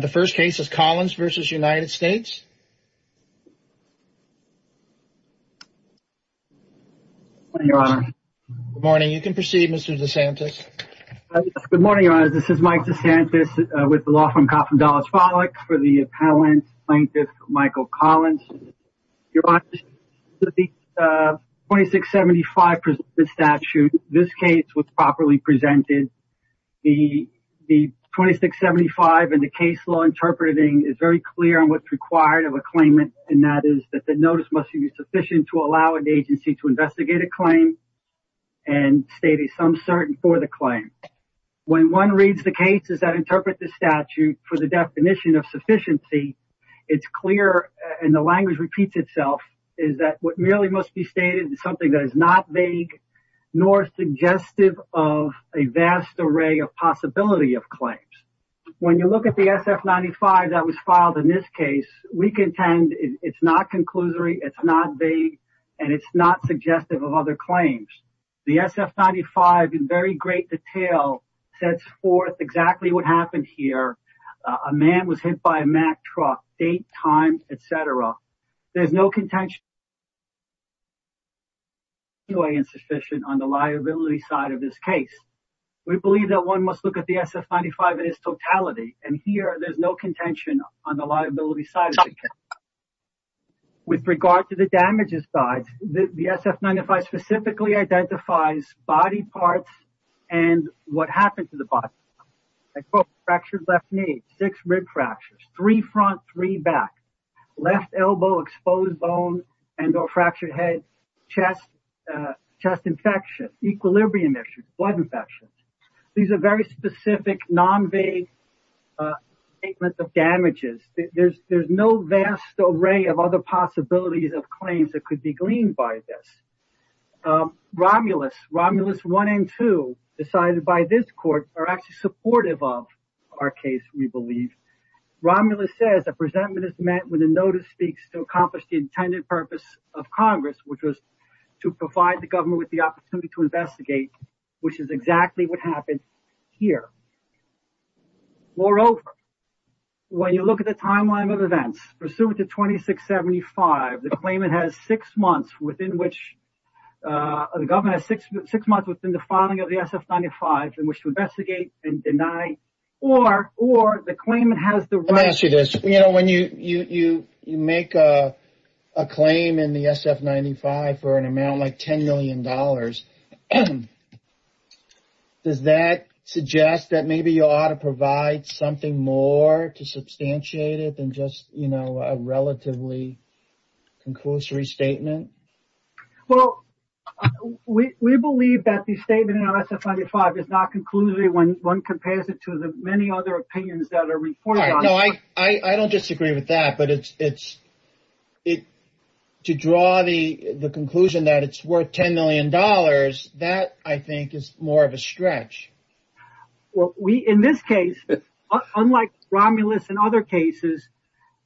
The first case is Collins v. United States Good morning Your Honor, this is Mike DeSantis with the Law Firm Coffin Dollars Follicks for the Appellant Plaintiff Michael Collins. Your Honor, the 2675 statute, this case was properly presented. The 2675 and the case law interpreting is very clear on what's required of a claimant and that is that the notice must be sufficient to allow an agency to investigate a claim and state a some certain for the claim. When one reads the cases that interpret the statute for the definition of sufficiency, it's clear and the language repeats itself is that what really must be stated is something that is not vague nor suggestive of a vast array of possibility of claims. When you look at the SF-95 that was filed in this case, we contend it's not conclusory, it's not vague, and it's not suggestive of other claims. The SF-95 in very great detail sets forth exactly what happened here. A man was hit by a Mack truck, date, time, etc. There's no contention on the liability side of this case. We believe that one must look at the SF-95 in its totality and here there's no contention on the liability side of the case. With regard to the damages side, the SF-95 specifically identifies body parts and what happened to the body. Fractured left knee, six rib fractures, three front, three back, left elbow exposed bone and or fractured head, chest infection, equilibrium issues, blood infections. These are very specific non-vague statements of damages. There's no vast array of other possibilities of claims that could be gleaned by this. Romulus 1 and 2, decided by this court, are actually supportive of our case, we believe. Romulus says the presentment is met when the notice speaks to accomplish the intended purpose of Congress, which was to provide the government with the opportunity to investigate, which is exactly what happened here. Moreover, when you look at the timeline of events, pursuant to 2675, the claimant has six months within which, the government has six months within the filing of the SF-95 in which to investigate and deny, or the claimant has the right... Let me ask you this. When you make a claim in the SF-95 for an amount like $10 million, does that suggest that maybe you ought to provide something more to substantiate it than just a relatively conclusory statement? Well, we believe that the statement in SF-95 is not conclusory when one compares it to the many other opinions that are reported on it. I don't disagree with that, but to draw the conclusion that it's worth $10 million, that I think is more of a stretch. Well, we, in this case, unlike Romulus and other cases,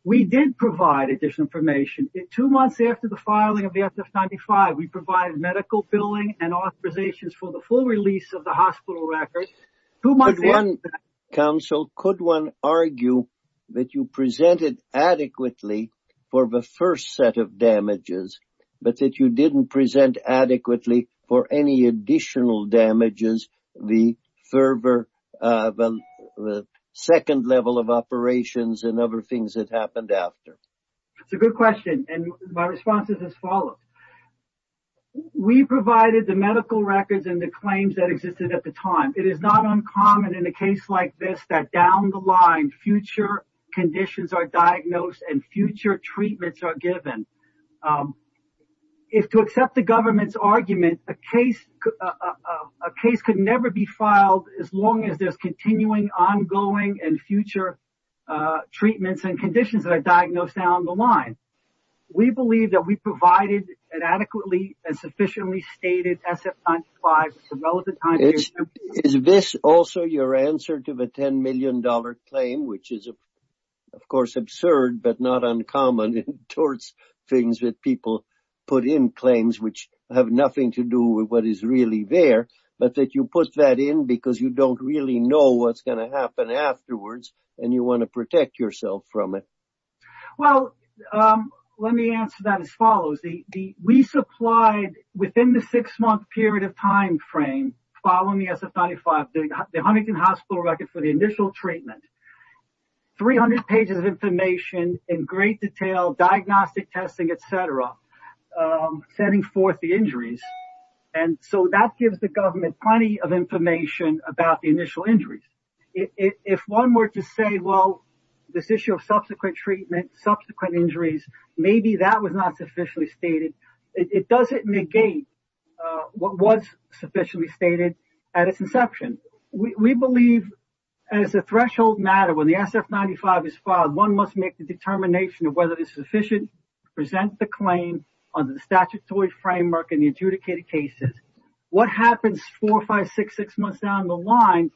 we did provide additional information. Two months after the filing of the SF-95, we provided medical billing and authorizations for the full release of the hospital records. Could one, counsel, could one argue that you presented adequately for the first set of further, the second level of operations and other things that happened after? That's a good question, and my response is as follows. We provided the medical records and the claims that existed at the time. It is not uncommon in a case like this that down the line, future conditions are diagnosed and future treatments are given. If, to accept the government's argument, a case could never be filed as long as there's continuing ongoing and future treatments and conditions that are diagnosed down the line. We believe that we provided an adequately and sufficiently stated SF-95 at the relevant time period. Is this also your answer to the $10 million claim, which is, of course, absurd but not things that people put in claims which have nothing to do with what is really there, but that you put that in because you don't really know what's going to happen afterwards and you want to protect yourself from it? Well, let me answer that as follows. We supplied, within the six-month period of time frame following the SF-95, the Huntington Hospital record for the initial treatment, 300 pages of information in great detail, diagnostic testing, et cetera, setting forth the injuries. That gives the government plenty of information about the initial injuries. If one were to say, well, this issue of subsequent treatment, subsequent injuries, maybe that was not sufficiently stated, it doesn't negate what was sufficiently stated at its inception. We believe, as a threshold matter, when the SF-95 is filed, one must make the determination of whether it is sufficient to present the claim under the statutory framework in the adjudicated cases. What happens four, five, six months down the line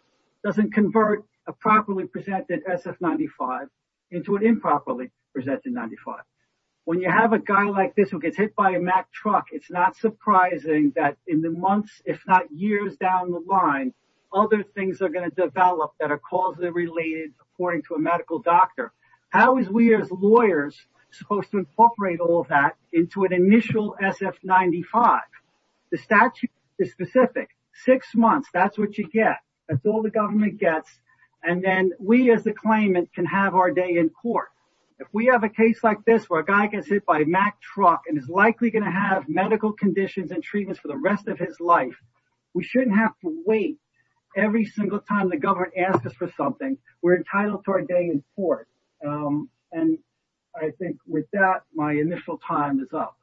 doesn't convert a properly presented SF-95 into an improperly presented 95. When you have a guy like this who gets hit by a Mack truck, it's not surprising that in the months, if not years down the line, other things are going to develop that are causally related according to a medical doctor. How is we as lawyers supposed to incorporate all of that into an initial SF-95? The statute is specific. Six months, that's what you get. That's all the government gets. And then we, as the claimant, can have our day in court. If we have a case like this where a guy gets hit by a Mack truck and is likely going to have medical conditions and treatments for the rest of his life, we shouldn't have to wait. Every single time the government asks us for something, we're entitled to our day in court. And I think with that, my initial time is up.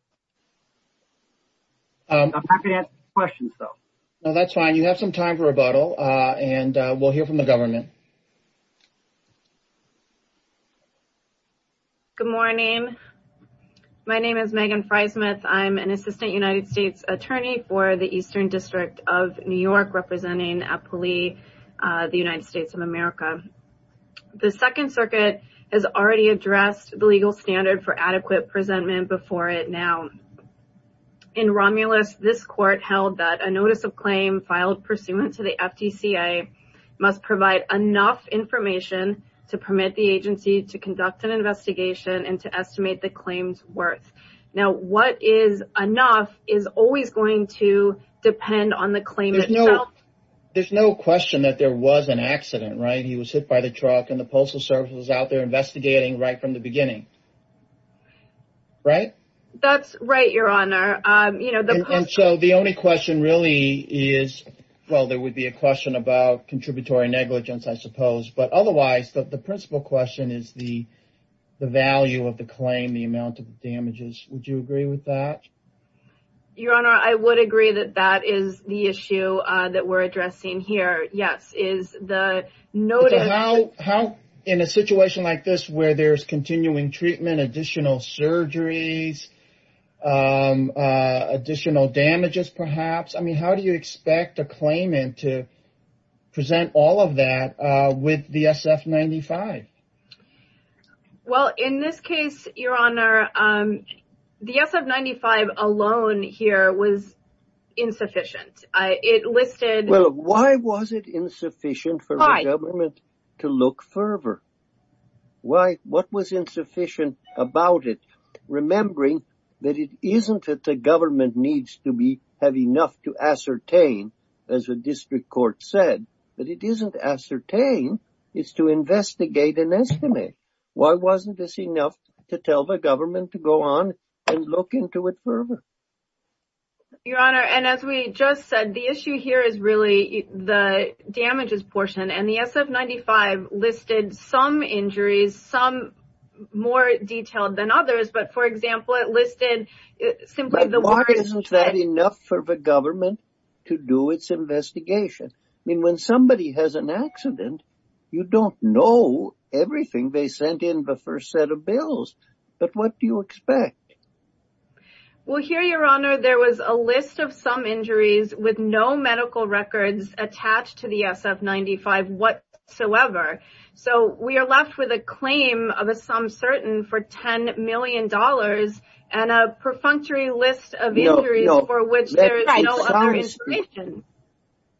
I'm happy to answer questions, though. No, that's fine. You have some time for rebuttal and we'll hear from the government. Good morning, my name is Megan Frysmith. I'm an assistant United States attorney for the Eastern District of New York, representing APOLI, the United States of America. The Second Circuit has already addressed the legal standard for adequate presentment before it now. In Romulus, this court held that a notice of claim filed pursuant to the FDCA must provide enough information to permit the agency to conduct an investigation and to estimate the claim's worth. Now, what is enough is always going to depend on the claim itself. There's no question that there was an accident, right? He was hit by the truck and the Postal Service was out there investigating right from the beginning. Right, that's right, your honor. You know, so the only question really is, well, there would be a question about contributory negligence, I suppose, but otherwise the principal question is the the value of the claim, the amount of damages. Would you agree with that? Your honor, I would agree that that is the issue that we're addressing here. Yes, is the notice. How in a situation like this where there's continuing treatment, additional surgeries, additional damages, perhaps. I mean, how do you expect a claimant to present all of that with the SF-95? Well, in this case, your honor, the SF-95 alone here was insufficient. It listed. Well, why was it insufficient for the government to look further? Why? What was insufficient about it? Remembering that it isn't that the government needs to be have enough to ascertain, as the district court said, that it isn't ascertain, it's to investigate and estimate. Why wasn't this enough to tell the government to go on and look into it further? Your honor, and as we just said, the issue here is really the damages portion and the SF-95 listed some injuries, some more detailed than others. But, for example, it listed simply the. Why isn't that enough for the government to do its investigation? I mean, when somebody has an accident, you don't know everything. They sent in the first set of bills. But what do you expect? Well, here, your honor, there was a list of some injuries with no medical records attached to the SF-95 whatsoever. So we are left with a claim of a some certain for ten million dollars and a perfunctory list of injuries for which there is no other information.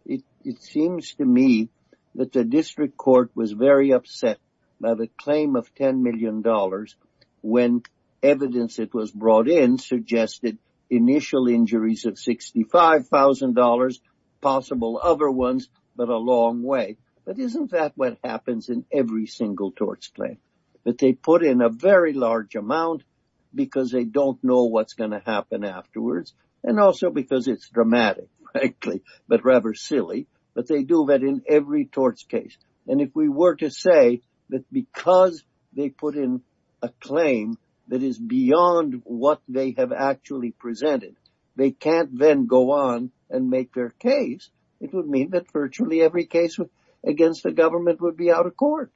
It seems to me that the district court was very upset by the claim of ten million dollars when evidence it was brought in suggested initial injuries of sixty five thousand dollars, possible other ones, but a long way. But isn't that what happens in every single torts claim, that they put in a very large amount because they don't know what's going to happen afterwards and also because it's dramatic, frankly, but rather silly. But they do that in every torts case. And if we were to say that because they put in a claim that is beyond what they have actually presented, they can't then go on and make their case, it would mean that virtually every case against the government would be out of court.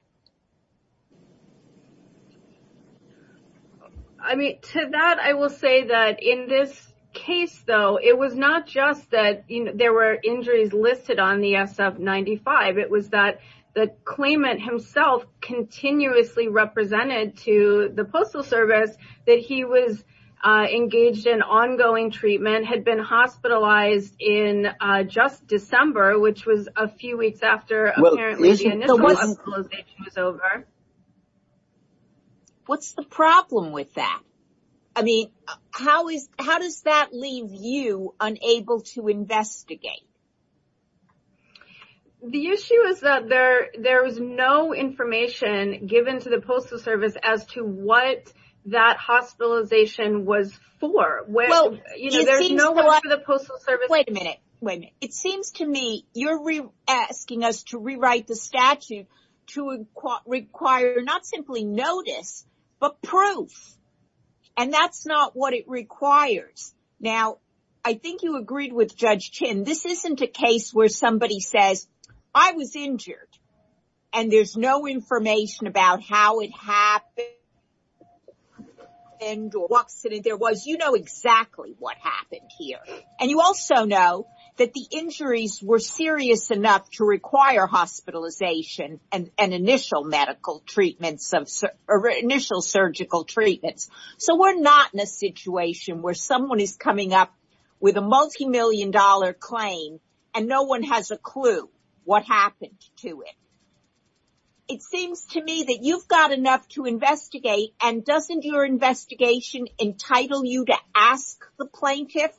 I mean, to that, I will say that in this case, though, it was not just that there were injuries listed on the SF-95. It was that the claimant himself continuously represented to the Postal Service that he was engaged in ongoing treatment, had been hospitalized in just December, which was a few weeks after the initial hospitalization was over. What's the problem with that? I mean, how is how does that leave you unable to investigate? The issue is that there there is no information given to the Postal Service as to what that hospitalization was for. Well, you know, there's no one for the Postal Service. Wait a minute. Wait a minute. It seems to me you're asking us to rewrite the statute to require not simply notice, but proof. And that's not what it requires. Now, I think you agreed with Judge Chin. This isn't a case where somebody says, I was injured and there's no information about how it happened or what accident there was. You know exactly what happened here. And you also know that the injuries were serious enough to require hospitalization and initial medical treatments of initial surgical treatments. So we're not in a situation where someone is coming up with a multimillion dollar claim and no one has a clue what happened to it. It seems to me that you've got enough to investigate and doesn't your investigation entitle you to ask the plaintiff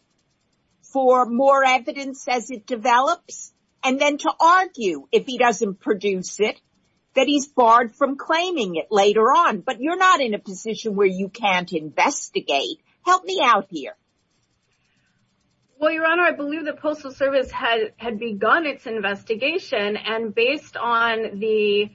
for more evidence as it develops and then to argue if he doesn't produce it, that he's barred from claiming it later on. But you're not in a position where you can't investigate. Help me out here. Well, Your Honor, I believe the Postal Service had begun its investigation. And based on the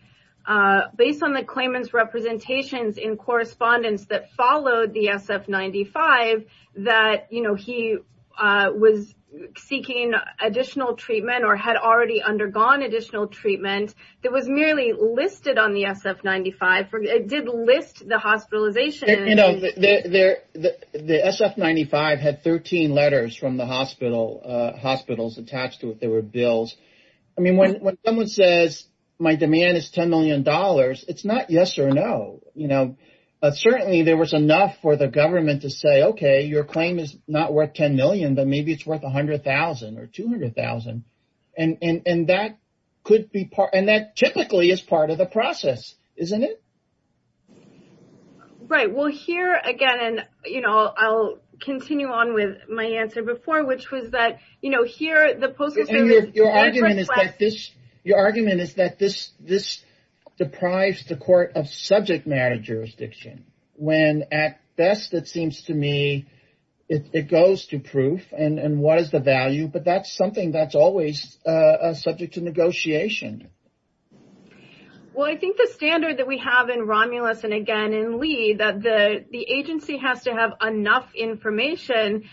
claimant's representations in correspondence that followed the SF-95, that he was seeking additional treatment or had already undergone additional treatment that was merely listed on the SF-95. It did list the hospitalization. You know, the SF-95 had 13 letters from the hospitals attached to it. There were bills. I mean, when someone says my demand is $10 million, it's not yes or no. You know, certainly there was enough for the government to say, OK, your claim is not worth $10 million, but maybe it's worth $100,000 or $200,000. And that could be part, and that typically is part of the process, isn't it? Right. Well, here again, and, you know, I'll continue on with my answer before, which was that, you know, here, the Postal Service... Your argument is that this deprives the court of subject matter jurisdiction. When at best, it seems to me, it goes to proof and what is the value. But that's something that's always subject to negotiation. Well, I think the standard that we have in Romulus and again in Lee, that the agency has to have enough information,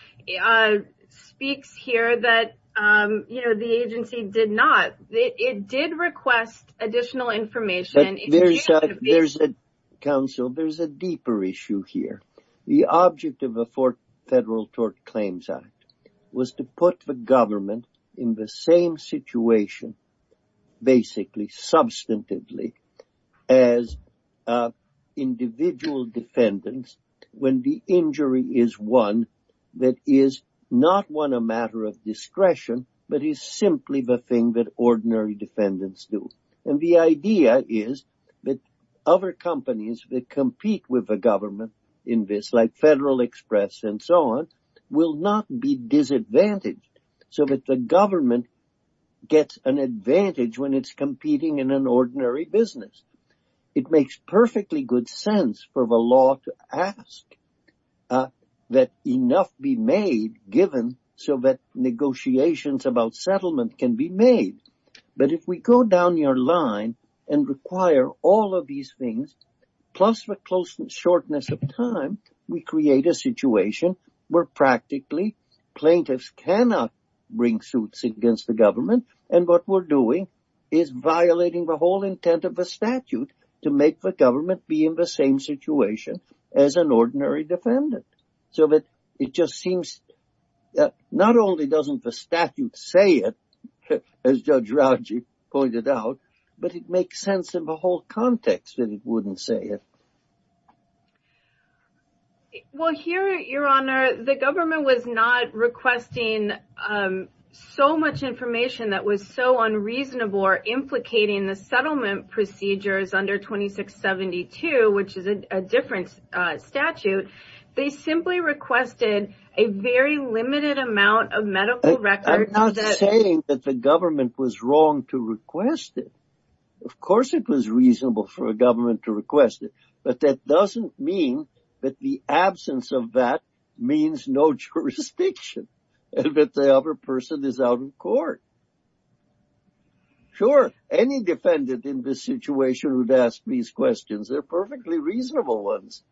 speaks here that, you know, the agency did not. It did request additional information. There's a, counsel, there's a deeper issue here. The object of the Fourth Federal Tort Claims Act was to put the government in the same situation, basically substantively, as individual defendants when the injury is one that is not one a matter of discretion, but is simply the thing that ordinary defendants do. And the idea is that other companies that compete with the government in this, like Federal Express and so on, will not be disadvantaged. So that the government gets an advantage when it's competing in an ordinary business. It makes perfectly good sense for the law to ask that enough be made, given so that negotiations about settlement can be made. But if we go down your line and require all of these things, plus the closeness, shortness of time, we create a situation where practically plaintiffs cannot bring suits against the government. And what we're doing is violating the whole intent of the statute to make the government be in the same situation as an ordinary defendant. So that it just seems that not only doesn't the statute say it, as Judge Rauji pointed out, but it makes sense in the whole context that it wouldn't say it. Well, here, Your Honor, the government was not requesting so much information that was so unreasonable or implicating the settlement procedures under 2672, which is a different statute. They simply requested a very limited amount of medical records. I'm not saying that the government was wrong to request it. Of course, it was reasonable for a government to request it. But that doesn't mean that the absence of that means no jurisdiction and that the other person is out in court. Sure, any defendant in this situation would ask these questions. They're perfectly reasonable ones.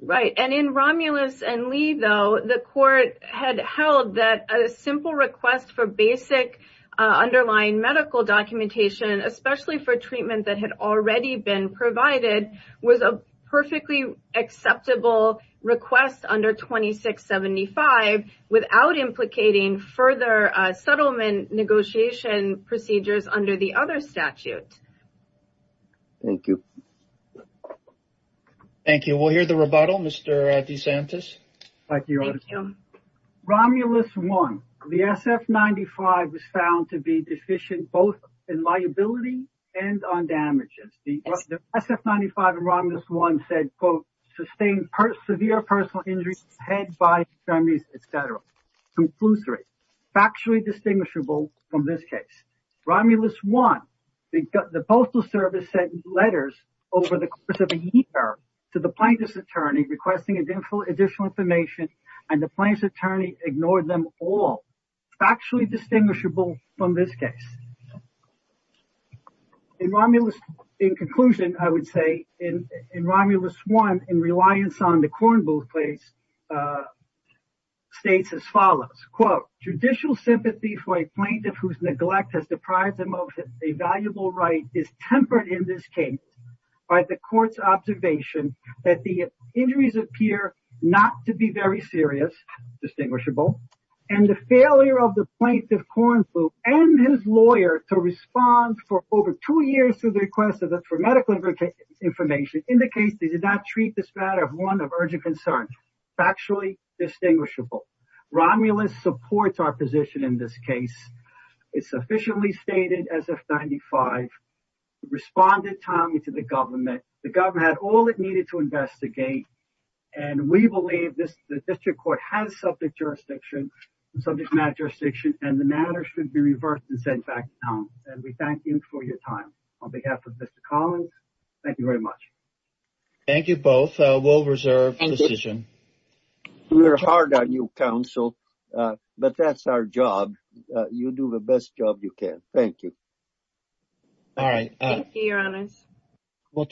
Right. And in Romulus and Lee, though, the court had held that a simple request for basic underlying medical documentation, especially for treatment that had already been provided, was a perfectly acceptable request under 2675 without implicating further settlement negotiation procedures under the other statute. Thank you. Thank you. We'll hear the rebuttal, Mr. DeSantis. Thank you, Your Honor. Romulus 1, the SF-95 was found to be deficient both in liability and on damages. The SF-95 and Romulus 1 said, quote, sustained severe personal injuries, head, body injuries, et cetera. Conclusory, factually distinguishable from this case. Romulus 1, the Postal Service sent letters over the course of a year to the plaintiff's attorney requesting additional information, and the plaintiff's attorney ignored them all. Factually distinguishable from this case. In Romulus, in conclusion, I would say in Romulus 1, in reliance on the corn booth case, states as follows, quote, judicial sympathy for a plaintiff whose neglect has deprived them of a valuable right is tempered in this case by the court's observation that the injuries appear not to be very serious. Distinguishable. And the failure of the plaintiff corn booth and his lawyer to respond for over two years to the request for medical information indicates they did not treat this matter of one of urgent concern. Factually distinguishable. Romulus supports our position in this case. It's officially stated as F95, responded timely to the government. The government had all it needed to investigate. And we believe the district court has subject jurisdiction, subject matter jurisdiction, and the matter should be reversed and sent back down. And we thank you for your time. On behalf of Mr. Collins, thank you very much. Thank you both. We'll reserve the position. We're hard on you, counsel. But that's our job. You do the best job you can. All right. Thank you, your honors.